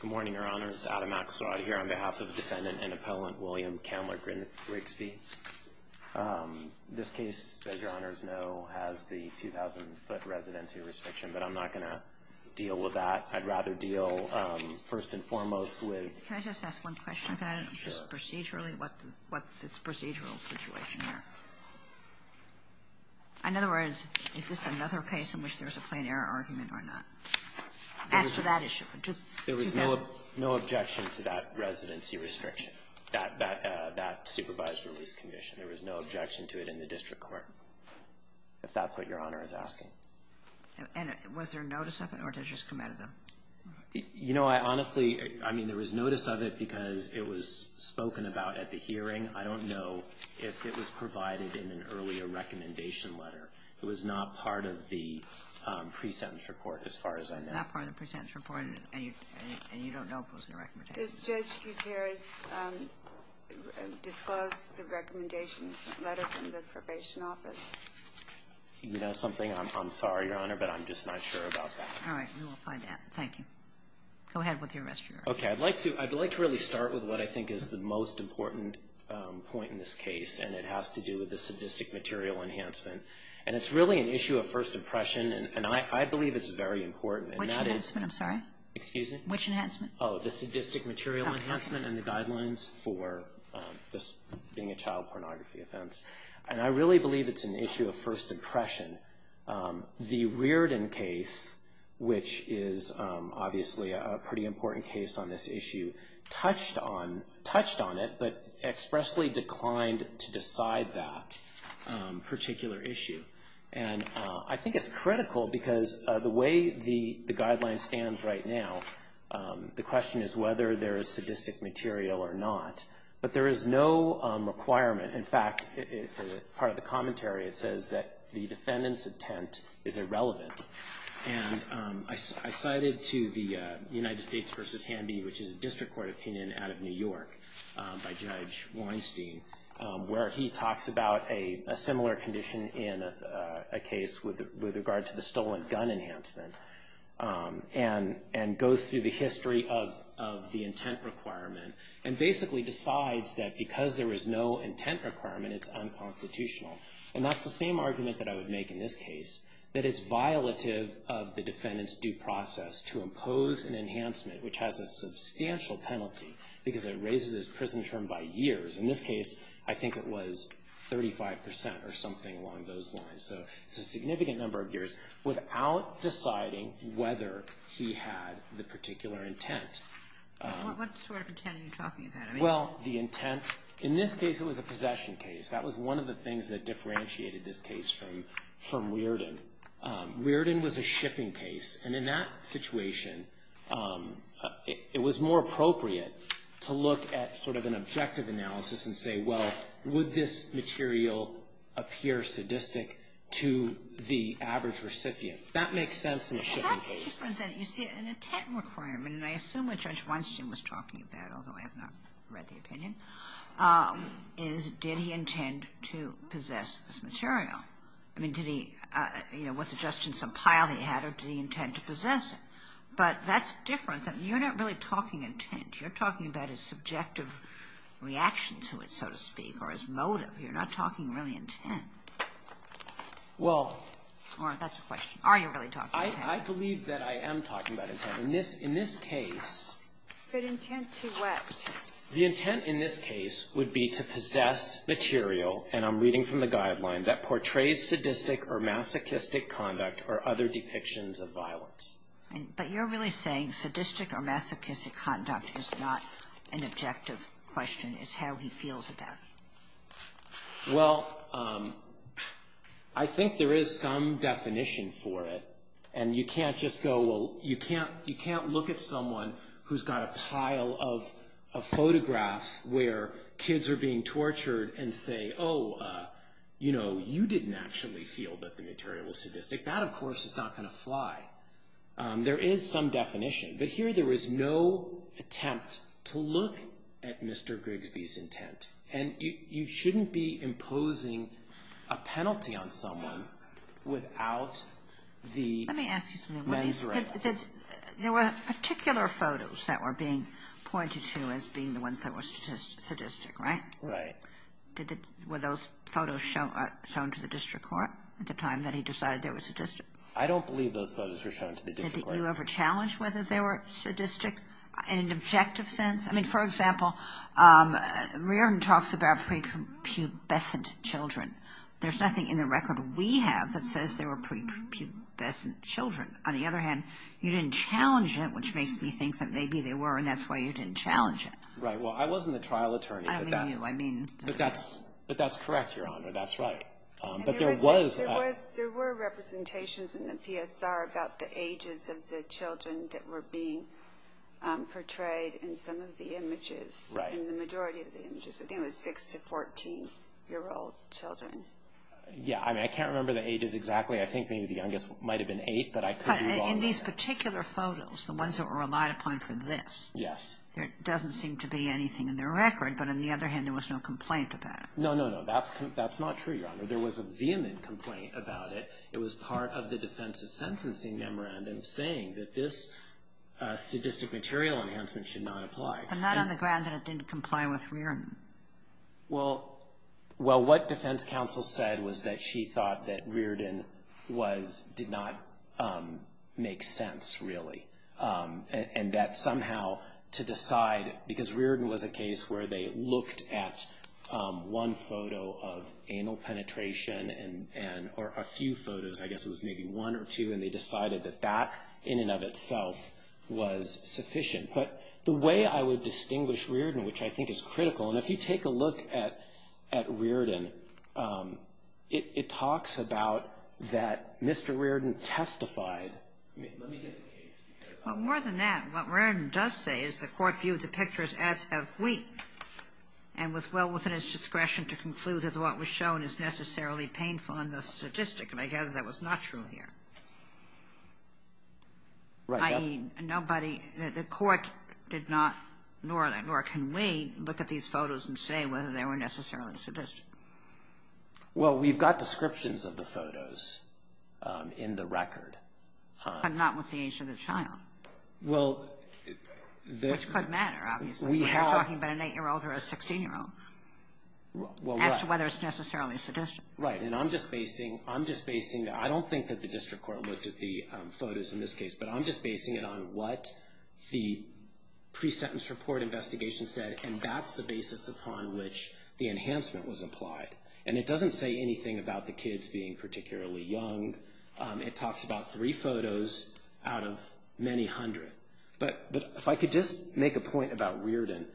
Good morning, Your Honors. Adam Axelrod here on behalf of Defendant and Appellant William Kamler Grigsby. This case, as Your Honors know, has the 2,000-foot residency restriction, but I'm not going to deal with that. I'd rather deal first and foremost with – Can I just ask one question? Sure. Just procedurally, what's its procedural situation here? In other words, is this another case in which there's a plain error argument or not? Ask for that issue. There was no objection to that residency restriction, that supervised release condition. There was no objection to it in the district court, if that's what Your Honor is asking. And was there notice of it, or did it just come out of them? You know, I honestly – I mean, there was notice of it because it was spoken about at the hearing. I don't know if it was provided in an earlier recommendation letter. It was not part of the pre-sentence report, as far as I know. Not part of the pre-sentence report, and you don't know if it was in the recommendation? Does Judge Gutierrez disclose the recommendation letter from the probation office? You know something? I'm sorry, Your Honor, but I'm just not sure about that. All right. We will find out. Thank you. Go ahead with the rest of your argument. Okay. I'd like to really start with what I think is the most important point in this case, and it has to do with the sadistic material enhancement. And it's really an issue of first impression, and I believe it's very important. Which enhancement? I'm sorry? Excuse me? Which enhancement? Oh, the sadistic material enhancement and the guidelines for this being a child pornography offense. And I really believe it's an issue of first impression. The Reardon case, which is obviously a pretty important case on this issue, touched on it but expressly declined to decide that particular issue. And I think it's critical because the way the guideline stands right now, the question is whether there is sadistic material or not. But there is no requirement. In fact, part of the commentary, it says that the defendant's intent is irrelevant. And I cited to the United States v. Hanby, which is a district court opinion out of New York by Judge Weinstein, where he talks about a similar condition in a case with regard to the stolen gun enhancement and goes through the history of the intent requirement and basically decides that because there is no intent requirement, it's unconstitutional. And that's the same argument that I would make in this case, that it's violative of the defendant's due process to impose an enhancement, which has a substantial penalty because it raises his prison term by years. In this case, I think it was 35 percent or something along those lines. So it's a significant number of years without deciding whether he had the particular intent. What sort of intent are you talking about? Well, the intent, in this case, it was a possession case. That was one of the things that differentiated this case from Weirden. Weirden was a shipping case. And in that situation, it was more appropriate to look at sort of an objective analysis and say, well, would this material appear sadistic to the average recipient? That makes sense in a shipping case. But that's a different thing. You see, an intent requirement, and I assume what Judge Weinstein was talking about, although I have not read the opinion, is did he intend to possess this material? I mean, did he, you know, was it just in some pile he had, or did he intend to possess it? But that's different. You're not really talking intent. You're talking about his subjective reaction to it, so to speak, or his motive. You're not talking really intent. Or that's a question. Are you really talking intent? I believe that I am talking about intent. In this case. But intent to what? The intent in this case would be to possess material, and I'm reading from the guideline, that portrays sadistic or masochistic conduct or other depictions of violence. But you're really saying sadistic or masochistic conduct is not an objective question. It's how he feels about it. Well, I think there is some definition for it. And you can't just go, well, you can't look at someone who's got a pile of photographs where kids are being tortured and say, oh, you know, you didn't actually feel that the material was sadistic. That, of course, is not going to fly. There is some definition. But here there is no attempt to look at Mr. Grigsby's intent. And you shouldn't be imposing a penalty on someone without the mens rea. There were particular photos that were being pointed to as being the ones that were sadistic, right? Right. Were those photos shown to the district court at the time that he decided they were sadistic? I don't believe those photos were shown to the district court. Did you ever challenge whether they were sadistic in an objective sense? I mean, for example, Reardon talks about prepubescent children. There's nothing in the record we have that says they were prepubescent children. On the other hand, you didn't challenge it, which makes me think that maybe they were, and that's why you didn't challenge it. Right. Well, I wasn't a trial attorney. I don't mean you. But that's correct, Your Honor. That's right. There were representations in the PSR about the ages of the children that were being portrayed in some of the images. Right. In the majority of the images. I think it was 6 to 14-year-old children. Yeah. I mean, I can't remember the ages exactly. I think maybe the youngest might have been 8, but I could be wrong. In these particular photos, the ones that were relied upon for this, there doesn't seem to be anything in the record. But on the other hand, there was no complaint about it. No, no, no. That's not true, Your Honor. There was a vehement complaint about it. It was part of the defense's sentencing memorandum saying that this sadistic material enhancement should not apply. But not on the grounds that it didn't comply with Riordan. Well, what defense counsel said was that she thought that Riordan did not make sense, really, and that somehow to decide, because Riordan was a case where they looked at one photo of anal penetration, or a few photos, I guess it was maybe one or two, and they decided that that in and of itself was sufficient. But the way I would distinguish Riordan, which I think is critical, and if you take a look at Riordan, it talks about that Mr. Riordan testified. Let me get the case. Well, more than that, what Riordan does say is the Court viewed the pictures as of weak and was well within its discretion to conclude that what was shown is necessarily painful and thus sadistic, and I gather that was not true here. Right. I mean, nobody, the Court did not, nor can we, look at these photos and say whether they were necessarily sadistic. Well, we've got descriptions of the photos in the record. But not with the age of the child, which could matter, obviously. We're talking about an 8-year-old or a 16-year-old as to whether it's necessarily sadistic. Right. And I'm just basing, I don't think that the district court looked at the photos in this case, but I'm just basing it on what the pre-sentence report investigation said, and that's the basis upon which the enhancement was applied. And it doesn't say anything about the kids being particularly young. It talks about three photos out of many hundred. But if I could just make a point about Riordan,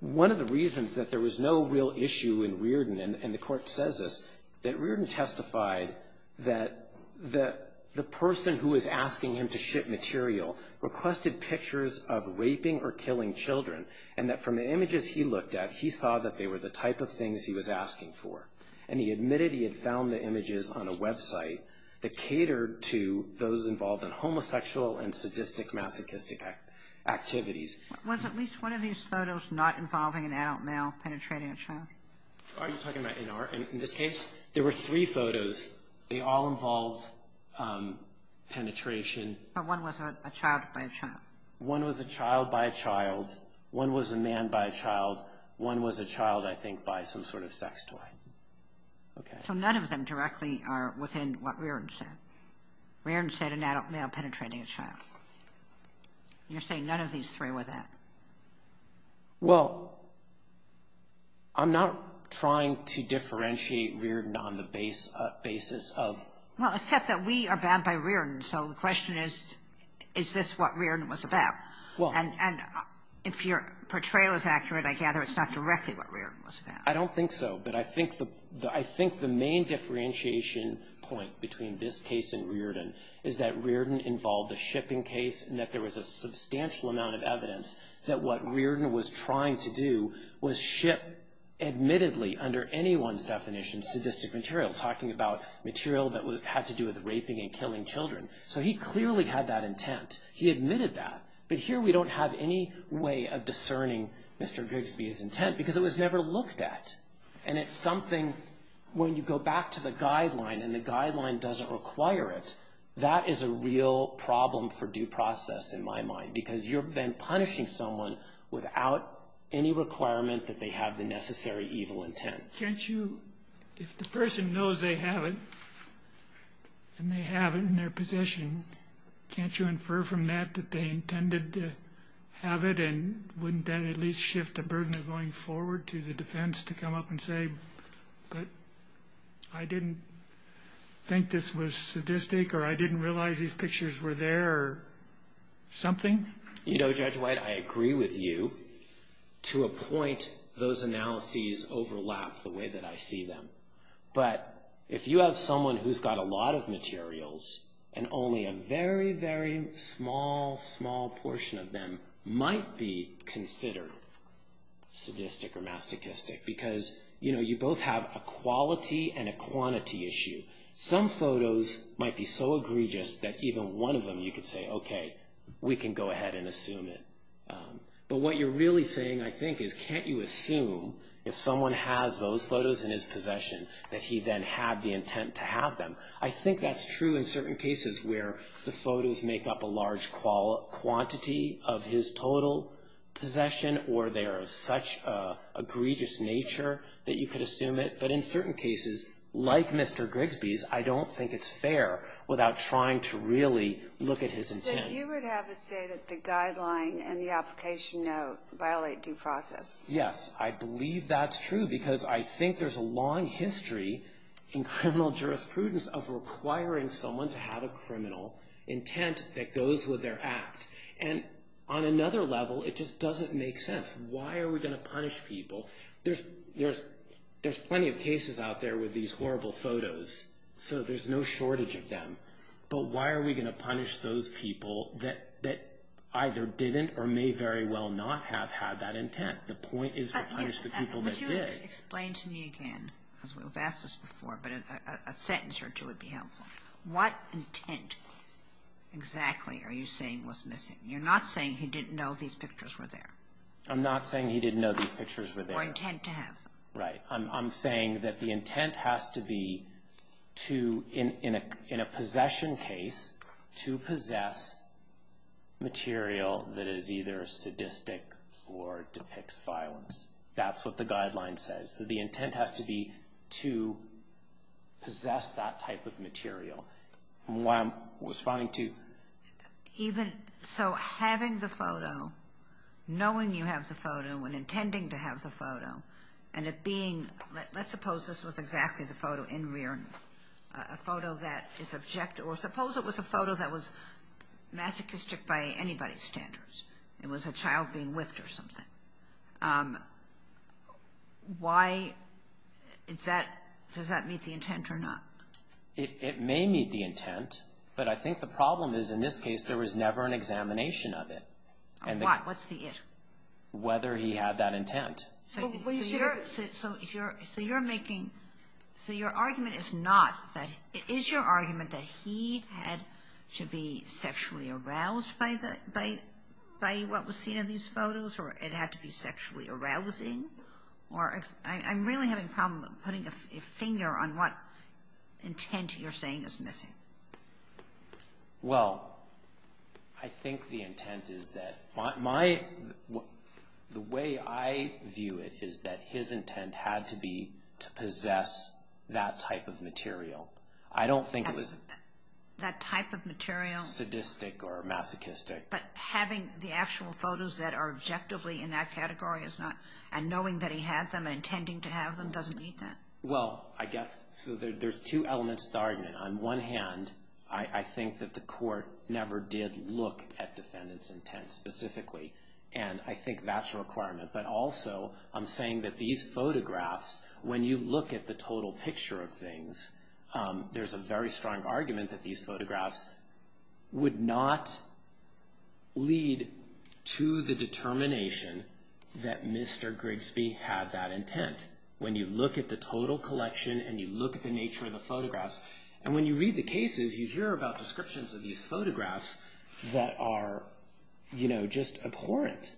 one of the reasons that there was no real issue in Riordan, and the Court says this, that Riordan testified that the person who was asking him to ship material requested pictures of raping or killing children, and that from the images he looked at, he saw that they were the type of things he was asking for. And he admitted he had found the images on a website that catered to those involved in homosexual and sadistic masochistic activities. Was at least one of these photos not involving an adult male penetrating a child? Are you talking about NR? In this case, there were three photos. They all involved penetration. But one was a child by a child. One was a child by a child. One was a man by a child. One was a child, I think, by some sort of sex toy. So none of them directly are within what Riordan said. Riordan said an adult male penetrating a child. You're saying none of these three were that? Well, I'm not trying to differentiate Riordan on the basis of – Well, except that we are bound by Riordan. So the question is, is this what Riordan was about? And if your portrayal is accurate, I gather it's not directly what Riordan was about. I don't think so. But I think the main differentiation point between this case and Riordan is that Riordan involved a shipping case and that there was a substantial amount of evidence that what Riordan was trying to do was ship, admittedly, under anyone's definition, sadistic material, talking about material that had to do with raping and killing children. So he clearly had that intent. He admitted that. But here we don't have any way of discerning Mr. Gigsby's intent because it was never looked at. And it's something, when you go back to the guideline, and the guideline doesn't require it, that is a real problem for due process in my mind because you're then punishing someone without any requirement that they have the necessary evil intent. Can't you, if the person knows they have it and they have it in their possession, can't you infer from that that they intended to have it and wouldn't that at least shift the burden of going forward to the defense to come up and say, but I didn't think this was sadistic or I didn't realize these pictures were there or something? You know, Judge White, I agree with you to a point. Those analyses overlap the way that I see them. But if you have someone who's got a lot of materials and only a very, very small, small portion of them might be considered sadistic or masochistic because, you know, you both have a quality and a quantity issue. Some photos might be so egregious that even one of them you could say, okay, we can go ahead and assume it. But what you're really saying, I think, is can't you assume if someone has those photos in his possession that he then had the intent to have them? I think that's true in certain cases where the photos make up a large quantity of his total possession or they are of such egregious nature that you could assume it. But in certain cases, like Mr. Grigsby's, I don't think it's fair without trying to really look at his intent. So you would have to say that the guideline and the application note violate due process? Yes, I believe that's true because I think there's a long history in criminal jurisprudence of requiring someone to have a criminal intent that goes with their act. And on another level, it just doesn't make sense. Why are we going to punish people? There's plenty of cases out there with these horrible photos, so there's no shortage of them. But why are we going to punish those people that either didn't or may very well not have had that intent? The point is to punish the people that did. Would you explain to me again, because we've asked this before, but a sentence or two would be helpful. What intent exactly are you saying was missing? You're not saying he didn't know these pictures were there. I'm not saying he didn't know these pictures were there. Or intent to have. Right. I'm saying that the intent has to be, in a possession case, to possess material that is either sadistic or depicts violence. That's what the guideline says. So the intent has to be to possess that type of material. That's what I'm responding to. So having the photo, knowing you have the photo, and intending to have the photo, and it being, let's suppose this was exactly the photo in rear view. A photo that is objective. Or suppose it was a photo that was masochistic by anybody's standards. It was a child being whipped or something. Why does that meet the intent or not? It may meet the intent. But I think the problem is, in this case, there was never an examination of it. Of what? What's the it? Whether he had that intent. So you're making, so your argument is not, is your argument that he had to be sexually aroused by what was seen in these photos? Or it had to be sexually arousing? I'm really having a problem putting a finger on what intent you're saying is missing. Well, I think the intent is that my, the way I view it is that his intent had to be to possess that type of material. I don't think it was. That type of material. Sadistic or masochistic. But having the actual photos that are objectively in that category is not, and knowing that he had them and intending to have them doesn't meet that? Well, I guess, so there's two elements to the argument. On one hand, I think that the court never did look at defendant's intent specifically. And I think that's a requirement. But also, I'm saying that these photographs, when you look at the total picture of things, there's a very strong argument that these photographs would not lead to the determination that Mr. Grigsby had that intent. When you look at the total collection and you look at the nature of the photographs, and when you read the cases, you hear about descriptions of these photographs that are just abhorrent.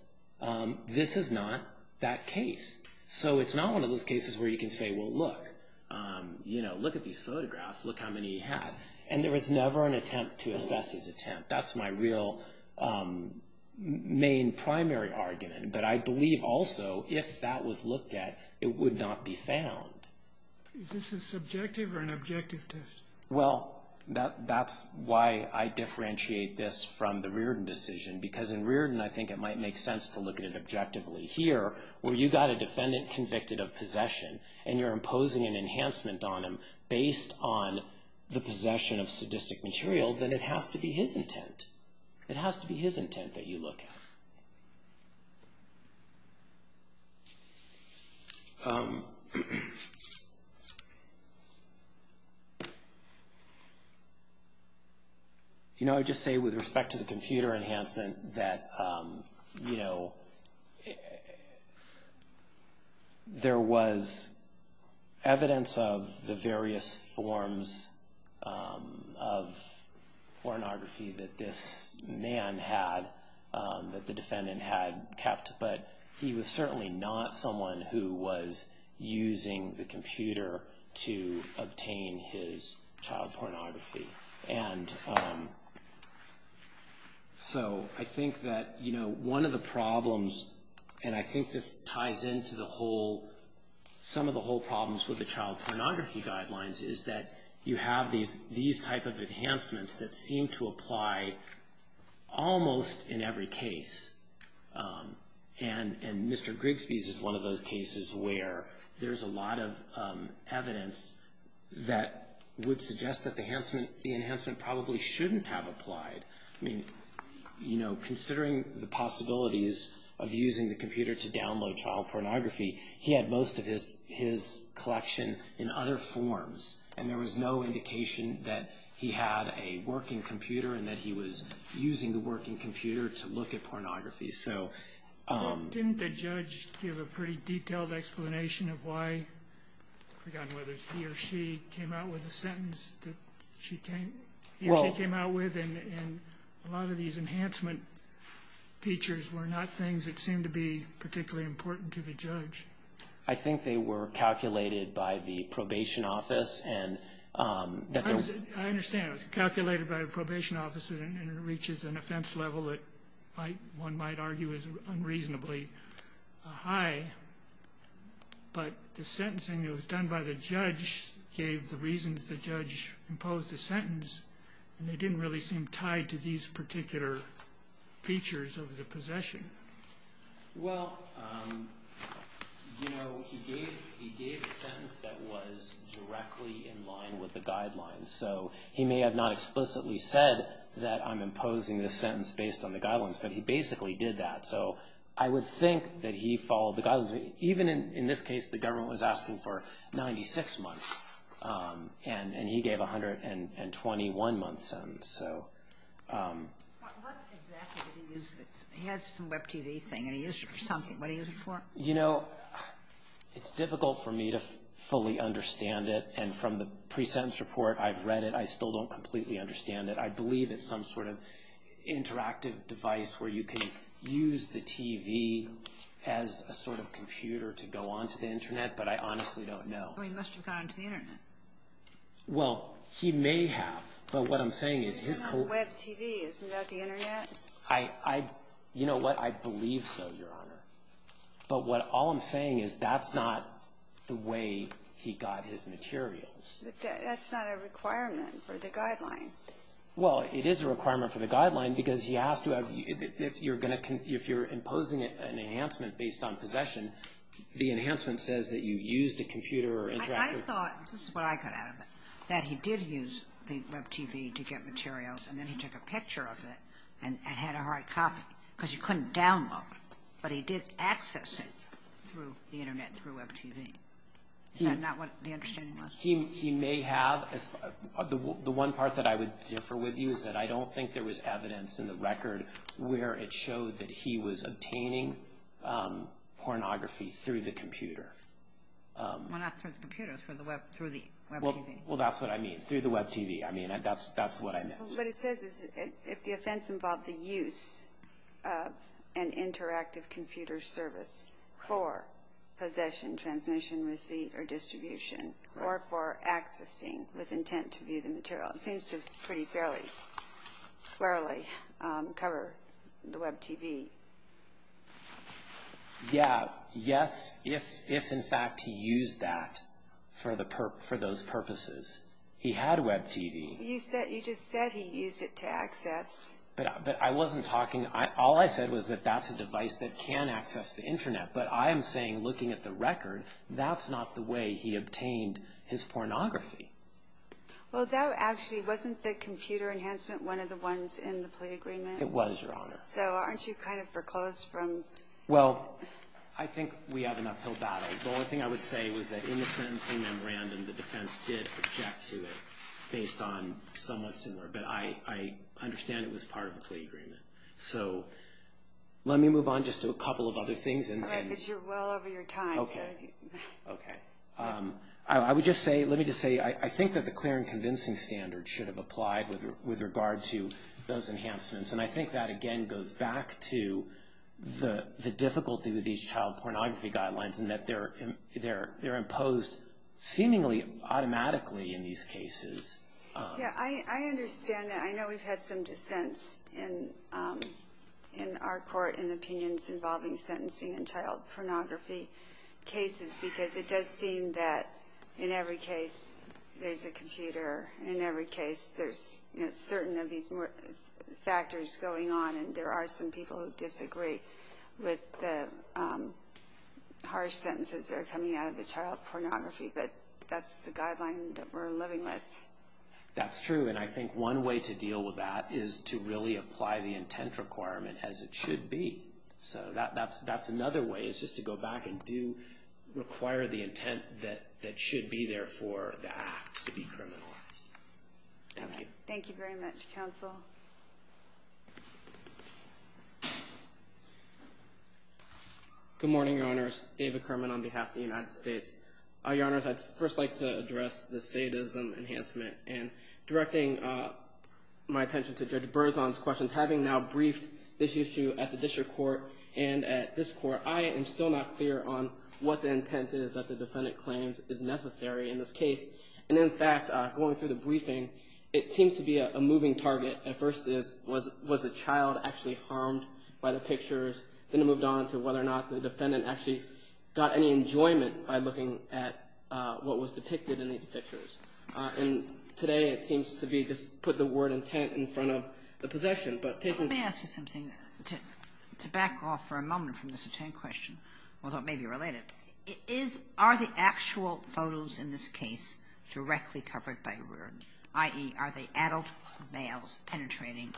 This is not that case. So it's not one of those cases where you can say, well, look, look at these photographs, look how many he had. And there was never an attempt to assess his attempt. That's my real main primary argument. But I believe also if that was looked at, it would not be found. Is this a subjective or an objective test? Well, that's why I differentiate this from the Riordan decision. Because in Riordan, I think it might make sense to look at it objectively. Here, where you've got a defendant convicted of possession, and you're imposing an enhancement on him based on the possession of sadistic material, then it has to be his intent. It has to be his intent that you look at. You know, I just say with respect to the computer enhancement that, you know, there was evidence of the various forms of pornography that this man had, that the defendant had kept. But he was certainly not someone who was using the computer to obtain his child pornography. And so I think that, you know, one of the problems, and I think this ties into some of the whole problems with the child pornography guidelines, is that you have these type of enhancements that seem to apply almost in every case. And Mr. Grigsby's is one of those cases where there's a lot of evidence that would suggest that the enhancement probably shouldn't have applied. I mean, you know, considering the possibilities of using the computer to download child pornography, he had most of his collection in other forms, and there was no indication that he had a working computer and that he was using the working computer to look at pornography. Didn't the judge give a pretty detailed explanation of why, I've forgotten whether he or she came out with a sentence that he or she came out with, and a lot of these enhancement features were not things that seemed to be particularly important to the judge. I think they were calculated by the probation office. I understand, it was calculated by the probation office, and it reaches an offense level that one might argue is unreasonably high. But the sentencing that was done by the judge gave the reasons the judge imposed the sentence, and they didn't really seem tied to these particular features of the possession. Well, you know, he gave a sentence that was directly in line with the guidelines, so he may have not explicitly said that I'm imposing this sentence based on the guidelines, but he basically did that, so I would think that he followed the guidelines. Even in this case, the government was asking for 96 months, and he gave 121 months. So what exactly did he use? He had some Web TV thing, and he used it for something. What did he use it for? You know, it's difficult for me to fully understand it, and from the pre-sentence report, I've read it. I still don't completely understand it. I believe it's some sort of interactive device where you can use the TV as a sort of computer to go onto the Internet, but I honestly don't know. He must have gone onto the Internet. Well, he may have, but what I'm saying is his collection. It's not Web TV. Isn't that the Internet? You know what? I believe so, Your Honor. But all I'm saying is that's not the way he got his materials. But that's not a requirement for the guideline. Well, it is a requirement for the guideline because he asked if you're imposing an enhancement based on possession, the enhancement says that you used a computer or interactive. I thought, this is what I got out of it, that he did use the Web TV to get materials, and then he took a picture of it and had a hard copy because you couldn't download it, but he did access it through the Internet, through Web TV. Is that not what the understanding was? He may have. The one part that I would differ with you is that I don't think there was evidence in the record where it showed that he was obtaining pornography through the computer. Well, not through the computer, through the Web TV. Well, that's what I mean, through the Web TV. I mean, that's what I meant. What it says is if the offense involved the use of an interactive computer service for possession, transmission, receipt, or distribution, or for accessing with intent to view the material. It seems to pretty fairly cover the Web TV. Yeah, yes, if in fact he used that for those purposes. He had Web TV. You just said he used it to access. But I wasn't talking, all I said was that that's a device that can access the Internet, but I am saying looking at the record, that's not the way he obtained his pornography. Well, that actually wasn't the computer enhancement one of the ones in the plea agreement? It was, Your Honor. So aren't you kind of foreclosed from? Well, I think we have an uphill battle. The only thing I would say was that in the sentencing memorandum, the defense did object to it based on somewhat similar, but I understand it was part of the plea agreement. So let me move on just to a couple of other things. All right, but you're well over your time. Okay, okay. I would just say, let me just say, I think that the clear and convincing standard should have applied with regard to those enhancements, and I think that, again, goes back to the difficulty with these child pornography guidelines and that they're imposed seemingly automatically in these cases. Yeah, I understand that. I know we've had some dissents in our court in opinions involving sentencing and child pornography cases because it does seem that in every case there's a computer, in every case there's certain of these factors going on, and there are some people who disagree with the harsh sentences that are coming out of the child pornography, but that's the guideline that we're living with. That's true, and I think one way to deal with that is to really apply the intent requirement as it should be. So that's another way is just to go back and do, require the intent that should be there for the act to be criminalized. Thank you. Thank you very much, Counsel. Good morning, Your Honors. David Kerman on behalf of the United States. Your Honors, I'd first like to address the sadism enhancement, and directing my attention to Judge Berzon's questions, having now briefed this issue at the district court and at this court, I am still not clear on what the intent is that the defendant claims is necessary in this case, and in fact, going through the briefing, it seems to be a moving target. At first it was was the child actually harmed by the pictures, then it moved on to whether or not the defendant actually got any enjoyment by looking at what was depicted in these pictures, and today it seems to be just put the word intent in front of the possession. Let me ask you something to back off for a moment from this question, although it may be related. Are the actual photos in this case directly covered by ruin, i.e., are they adult males penetrating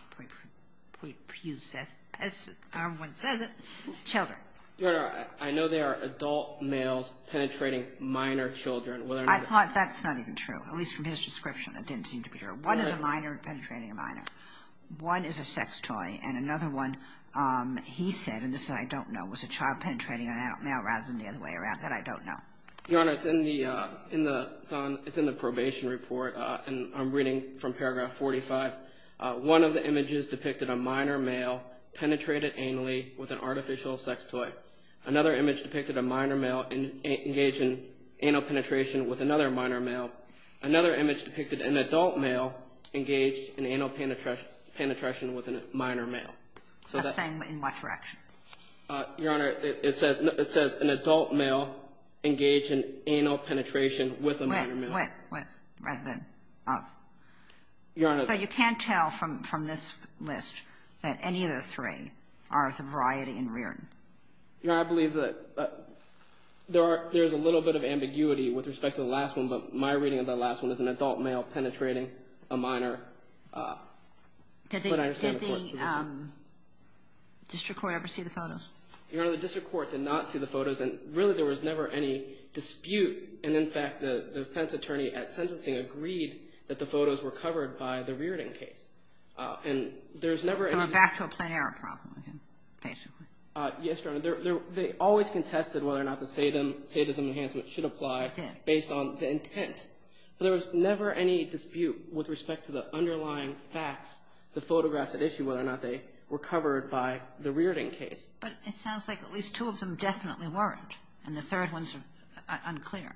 children? Your Honor, I know they are adult males penetrating minor children. I thought that's not even true, at least from his description. It didn't seem to be true. One is a minor penetrating a minor. One is a sex toy, and another one, he said, and this I don't know, was a child penetrating an adult male rather than the other way around, that I don't know. Your Honor, it's in the probation report, and I'm reading from paragraph 45. One of the images depicted a minor male penetrated anally with an artificial sex toy. Another image depicted a minor male engaged in anal penetration with another minor male. Another image depicted an adult male engaged in anal penetration with a minor male. That's saying in what direction? Your Honor, it says an adult male engaged in anal penetration with a minor male. With rather than of. Your Honor. So you can't tell from this list that any of the three are sobriety and rearing. Your Honor, I believe that there is a little bit of ambiguity with respect to the last one, but my reading of the last one is an adult male penetrating a minor. Did the district court ever see the photos? Your Honor, the district court did not see the photos, and really there was never any dispute, and in fact the defense attorney at sentencing agreed that the photos were covered by the rearing case. And there's never. So a back to a play error problem, basically. Yes, Your Honor. They always contested whether or not the sadism enhancement should apply based on the intent. There was never any dispute with respect to the underlying facts, the photographs at issue, whether or not they were covered by the rearing case. But it sounds like at least two of them definitely weren't, and the third one's unclear.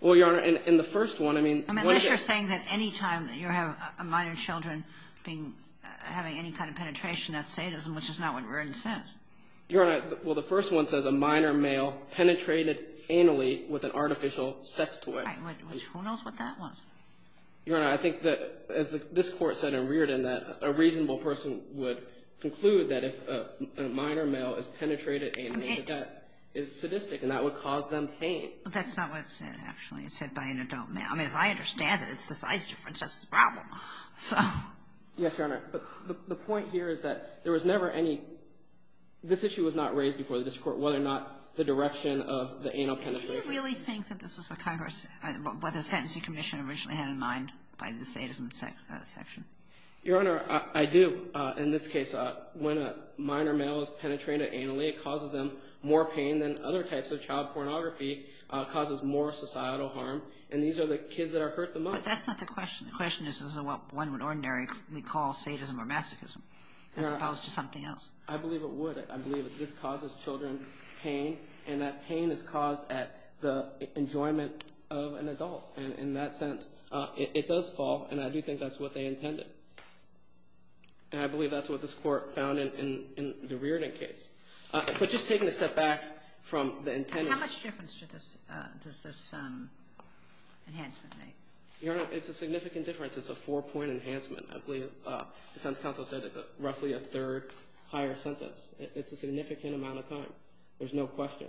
Well, Your Honor, in the first one, I mean. Unless you're saying that any time you have minor children having any kind of penetration, that's sadism, which is not what rearing says. Your Honor, well, the first one says a minor male penetrated anally with an artificial sex toy. Right. Who knows what that was? Your Honor, I think that, as this court said in Reardon, that a reasonable person would conclude that if a minor male is penetrated anally, that that is sadistic, and that would cause them pain. That's not what it said, actually. It said by an adult male. Yes, Your Honor. But the point here is that there was never any – this issue was not raised before the district court, whether or not the direction of the anal penetration. Do you really think that this was what Congress – what the Sentencing Commission originally had in mind by the sadism section? Your Honor, I do. In this case, when a minor male is penetrated anally, it causes them more pain than other types of child pornography, causes more societal harm, and these are the kids that are hurt the most. But that's not the question. The question is, is this what one would ordinarily call sadism or masochism as opposed to something else? I believe it would. I believe that this causes children pain, and that pain is caused at the enjoyment of an adult. And in that sense, it does fall, and I do think that's what they intended. And I believe that's what this Court found in the Reardon case. But just taking a step back from the intended – How much difference does this enhancement make? Your Honor, it's a significant difference. It's a four-point enhancement. I believe the defense counsel said it's roughly a third higher sentence. It's a significant amount of time. There's no question.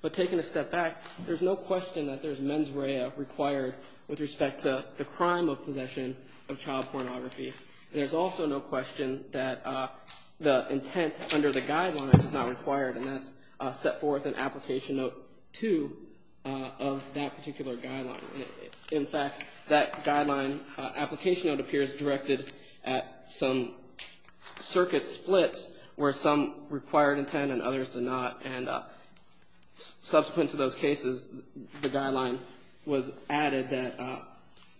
But taking a step back, there's no question that there's mens rea required with respect to the crime of possession of child pornography. There's also no question that the intent under the guidelines is not required, and that's set forth in Application Note 2 of that particular guideline. In fact, that guideline application note appears directed at some circuit splits where some required intent and others did not, and subsequent to those cases, the guideline was added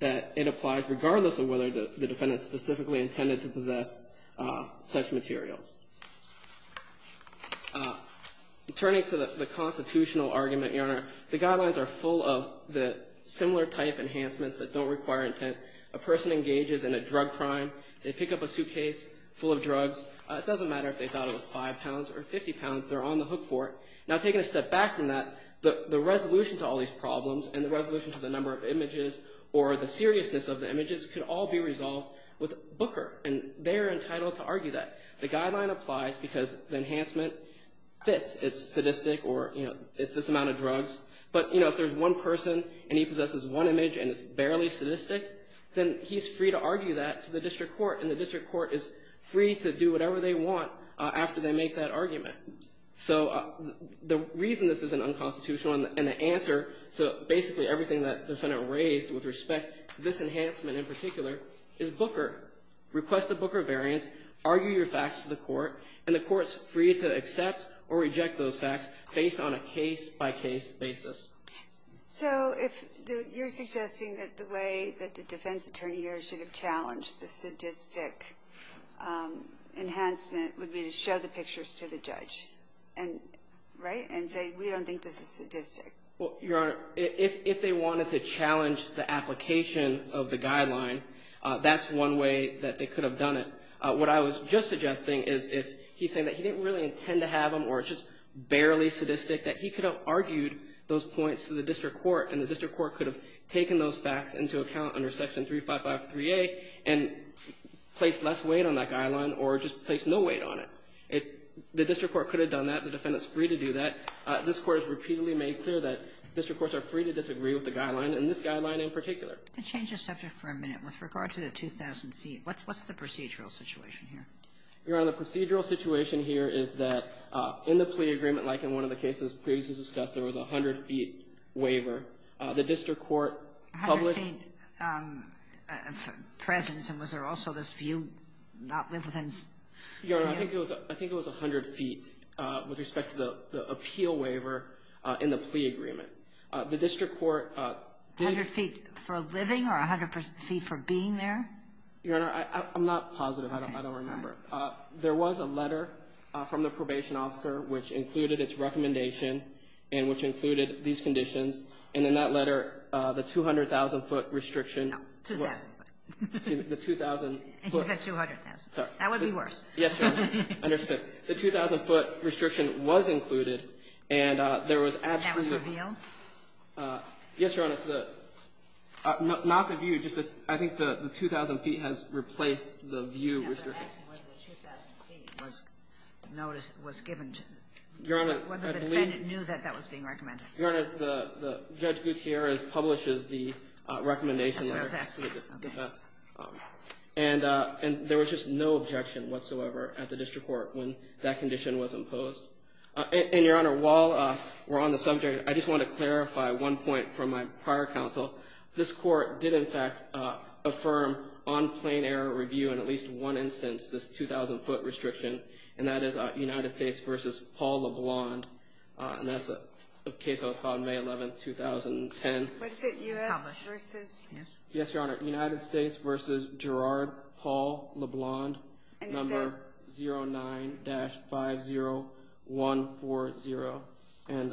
that it applies regardless of whether the defendant specifically intended to possess such materials. Turning to the constitutional argument, Your Honor, the guidelines are full of the similar type enhancements that don't require intent. A person engages in a drug crime. They pick up a suitcase full of drugs. It doesn't matter if they thought it was 5 pounds or 50 pounds. They're on the hook for it. Now, taking a step back from that, the resolution to all these problems and the resolution to the number of images or the seriousness of the images could all be resolved with Booker, and they're entitled to argue that. The guideline applies because the enhancement fits. It's sadistic or, you know, it's this amount of drugs. But, you know, if there's one person and he possesses one image and it's barely sadistic, then he's free to argue that to the district court, and the district court is free to do whatever they want after they make that argument. So the reason this is an unconstitutional and the answer to basically everything that the defendant raised with respect to this enhancement in particular is Booker. Request the Booker variance, argue your facts to the court, and the court's free to accept or reject those facts based on a case-by-case basis. So if you're suggesting that the way that the defense attorney here should have challenged the sadistic enhancement would be to show the pictures to the judge, right, and say we don't think this is sadistic. Well, Your Honor, if they wanted to challenge the application of the guideline, that's one way that they could have done it. What I was just suggesting is if he's saying that he didn't really intend to have them or it's just barely sadistic, that he could have argued those points to the district court, and the district court could have taken those facts into account under Section 3553A and placed less weight on that guideline or just placed no weight on it. The district court could have done that. The defendant's free to do that. This Court has repeatedly made clear that district courts are free to disagree with the guideline, and this guideline in particular. Can I change the subject for a minute? With regard to the 2,000 feet, what's the procedural situation here? Your Honor, the procedural situation here is that in the plea agreement, like in one of the cases previously discussed, there was a 100-feet waiver. The district court published — A 100-feet presence, and was there also this view not live within — Your Honor, I think it was 100 feet with respect to the appeal waiver in the plea agreement. The district court — 100 feet for living or 100 feet for being there? Your Honor, I'm not positive. I don't remember. There was a letter from the probation officer which included its recommendation and which included these conditions, and in that letter, the 200,000-foot restriction — No, 2,000 feet. The 2,000 — He said 200,000 feet. That would be worse. Yes, Your Honor. I understand. The 2,000-foot restriction was included, and there was absolutely — That was revealed? Yes, Your Honor. It's the — not the view. Just the — I think the 2,000 feet has replaced the view restriction. I'm asking whether the 2,000 feet was noticed — was given to — Your Honor, I believe — Whether the defendant knew that that was being recommended. Your Honor, Judge Gutierrez publishes the recommendation letter to the defense. That's what I was asking. Okay. And there was just no objection whatsoever at the district court when that condition was imposed. And, Your Honor, while we're on the subject, I just want to clarify one point from my prior counsel. This court did, in fact, affirm on plain error review in at least one instance this 2,000-foot restriction, and that is United States v. Paul LeBlond, and that's a case that was filed May 11, 2010. Yes, Your Honor. United States v. Gerard Paul LeBlond, number 09-50140. And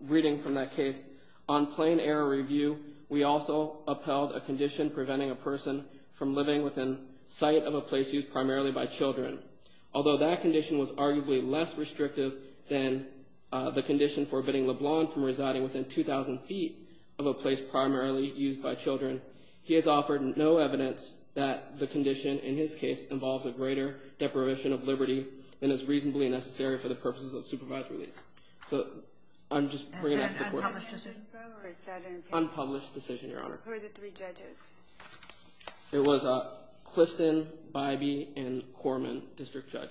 reading from that case, on plain error review, we also upheld a condition preventing a person from living within sight of a place used primarily by children. Although that condition was arguably less restrictive than the condition forbidding LeBlond from residing within 2,000 feet of a place primarily used by children, he has offered no evidence that the condition, in his case, involves a greater deprivation of liberty than is reasonably necessary for the purposes of supervised release. So I'm just bringing that to the court. Was that an unpublished decision? Unpublished decision, Your Honor. Who are the three judges? It was Clifton, Bybee, and Corman, district judge.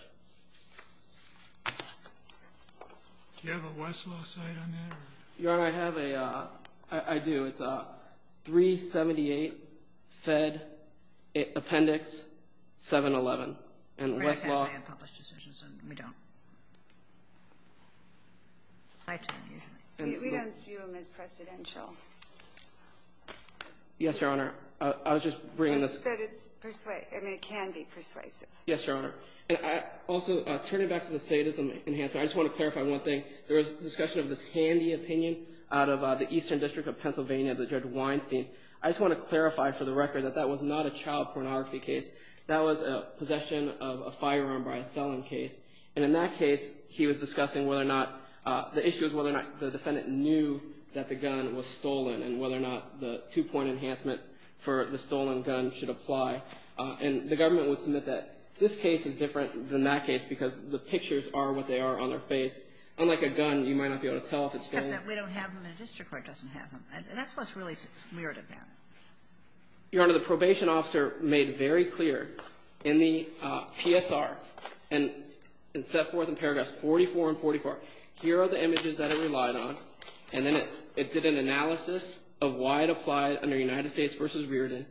Do you have a Westlaw cite on that? Your Honor, I have a ‑‑ I do. It's 378 Fed Appendix 711. And Westlaw ‑‑ We don't have any unpublished decisions. We don't. We don't view them as precedential. Yes, Your Honor. I was just bringing this ‑‑ It can be persuasive. Yes, Your Honor. And also, turning back to the sadism enhancement, I just want to clarify one thing. There was a discussion of this handy opinion out of the Eastern District of Pennsylvania, the Judge Weinstein. I just want to clarify for the record that that was not a child pornography case. That was a possession of a firearm by a felon case. And in that case, he was discussing whether or not the issue was whether or not the defendant knew that the gun was stolen and whether or not the two‑point enhancement for the stolen gun should apply. And the government would submit that this case is different than that case because the pictures are what they are on their face. Unlike a gun, you might not be able to tell if it's stolen. Except that we don't have them and the district court doesn't have them. And that's what's really weird about it. Your Honor, the probation officer made very clear in the PSR and set forth in paragraphs 44 and 44, here are the images that it relied on. And then it did an analysis of why it applied under United States versus Riordan.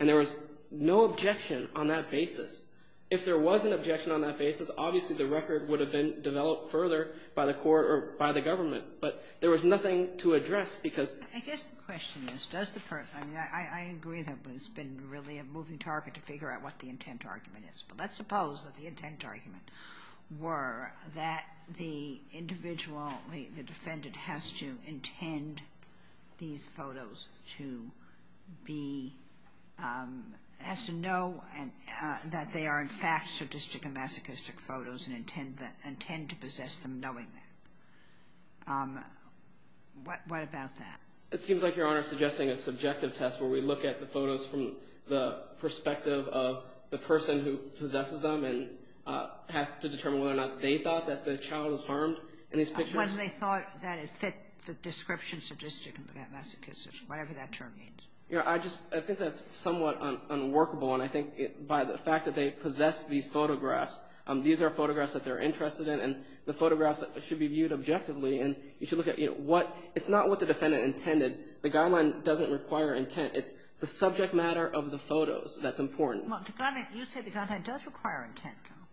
And there was no objection on that basis. If there was an objection on that basis, obviously the record would have been developed further by the court or by the government. But there was nothing to address because ‑‑ I guess the question is, does the ‑‑ I mean, I agree that it's been really a moving target to figure out what the intent argument is. But let's suppose that the intent argument were that the individual, the defendant has to intend these photos to be ‑‑ has to know that they are in fact sadistic and masochistic photos and intend to possess them knowing that. What about that? It seems like, Your Honor, suggesting a subjective test where we look at the photos from the perspective of the person who possesses them and have to determine whether or not they thought that the child is harmed in these pictures? When they thought that it fit the description sadistic and masochistic, whatever that term means. I just ‑‑ I think that's somewhat unworkable. And I think by the fact that they possess these photographs, these are photographs that they're interested in, and the photographs should be viewed objectively. And you should look at what ‑‑ it's not what the defendant intended. The guideline doesn't require intent. It's the subject matter of the photos that's important. Well, you say the guideline does require intent, though.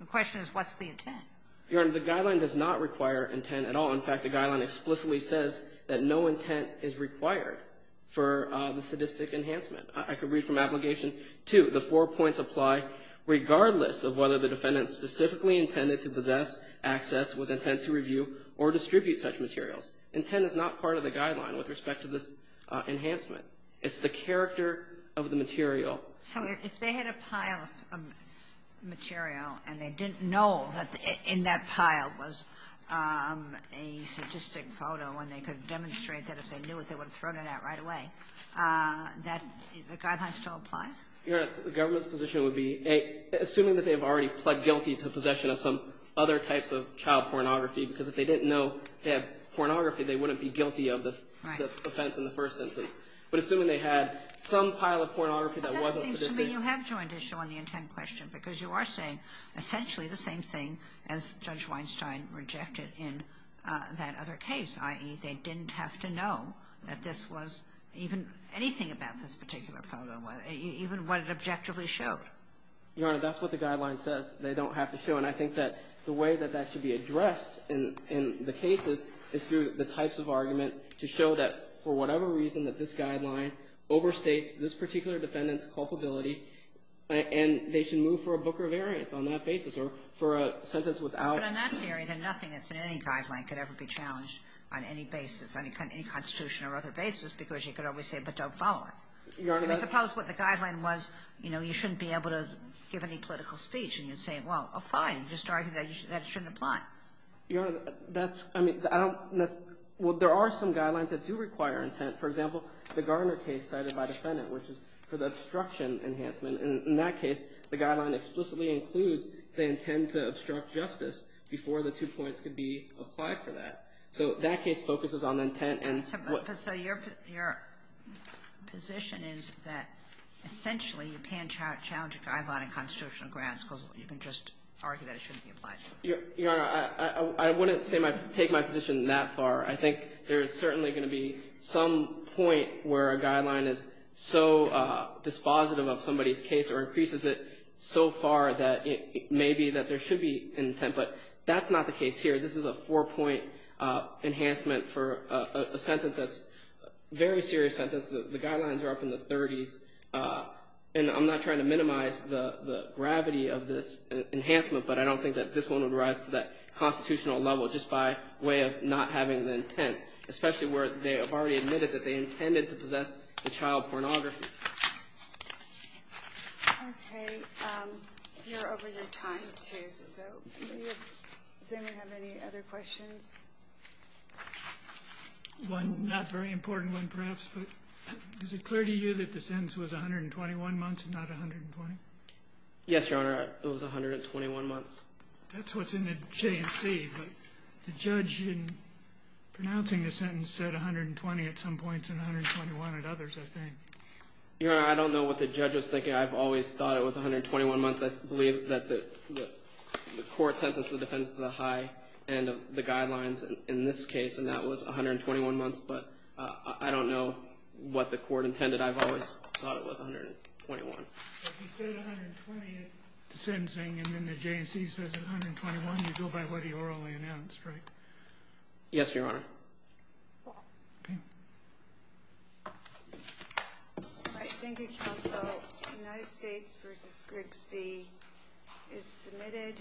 The question is what's the intent? Your Honor, the guideline does not require intent at all. In fact, the guideline explicitly says that no intent is required for the sadistic enhancement. I could read from Application 2, the four points apply regardless of whether the defendant specifically intended to possess, access, with intent to review, or distribute such materials. Intent is not part of the guideline with respect to this enhancement. It's the character of the material. So if they had a pile of material, and they didn't know that in that pile was a sadistic photo, and they could demonstrate that if they knew it, they would have thrown it out right away, the guideline still applies? Your Honor, the government's position would be, assuming that they've already pled guilty to possession of some other types of child pornography, because if they didn't know they had pornography, they wouldn't be guilty of the offense in the first instance. But assuming they had some pile of pornography that wasn't sadistic. But that seems to me you have joined issue on the intent question, because you are saying essentially the same thing as Judge Weinstein rejected in that other case, i.e., they didn't have to know that this was even anything about this particular photo, even what it objectively showed. Your Honor, that's what the guideline says. They don't have to show. And I think that the way that that should be addressed in the cases is through the types of argument to show that, for whatever reason, that this guideline overstates this particular defendant's culpability, and they should move for a book or variance on that basis or for a sentence without. But on that theory, then nothing that's in any guideline could ever be challenged on any basis, any Constitution or other basis, because you could always say, but don't follow it. Your Honor, that's – I suppose what the guideline was, you know, you shouldn't be able to give any political speech, and you'd say, well, fine. You just argue that it shouldn't apply. Your Honor, that's – I mean, I don't – well, there are some guidelines that do require intent. For example, the Garner case cited by the defendant, which is for the obstruction enhancement. And in that case, the guideline explicitly includes the intent to obstruct justice before the two points could be applied for that. So that case focuses on intent and what – So your position is that, essentially, you can't challenge a guideline in constitutional grounds because you can just argue that it shouldn't be applied. Your Honor, I wouldn't take my position that far. I think there is certainly going to be some point where a guideline is so dispositive of somebody's case or increases it so far that it may be that there should be intent. But that's not the case here. This is a four-point enhancement for a sentence that's a very serious sentence. The guidelines are up in the 30s. And I'm not trying to minimize the gravity of this enhancement, but I don't think that this one would rise to that constitutional level just by way of not having the intent, especially where they have already admitted that they intended to possess the child pornography. Okay. You're over your time, too. So does anyone have any other questions? One not very important one, perhaps, but is it clear to you that the sentence was 121 months and not 120? Yes, Your Honor, it was 121 months. That's what's in the J&C, but the judge in pronouncing the sentence said 120 at some points and 121 at others, I think. Your Honor, I don't know what the judge was thinking. I've always thought it was 121 months. I believe that the court sentenced the defendant to the high end of the guidelines in this case, and that was 121 months. But I don't know what the court intended. I've always thought it was 121. But he said 120 at the sentencing, and then the J&C says it's 121. You go by what he orally announced, right? Yes, Your Honor. Okay. Thank you, counsel. United States v. Grigsby is submitted.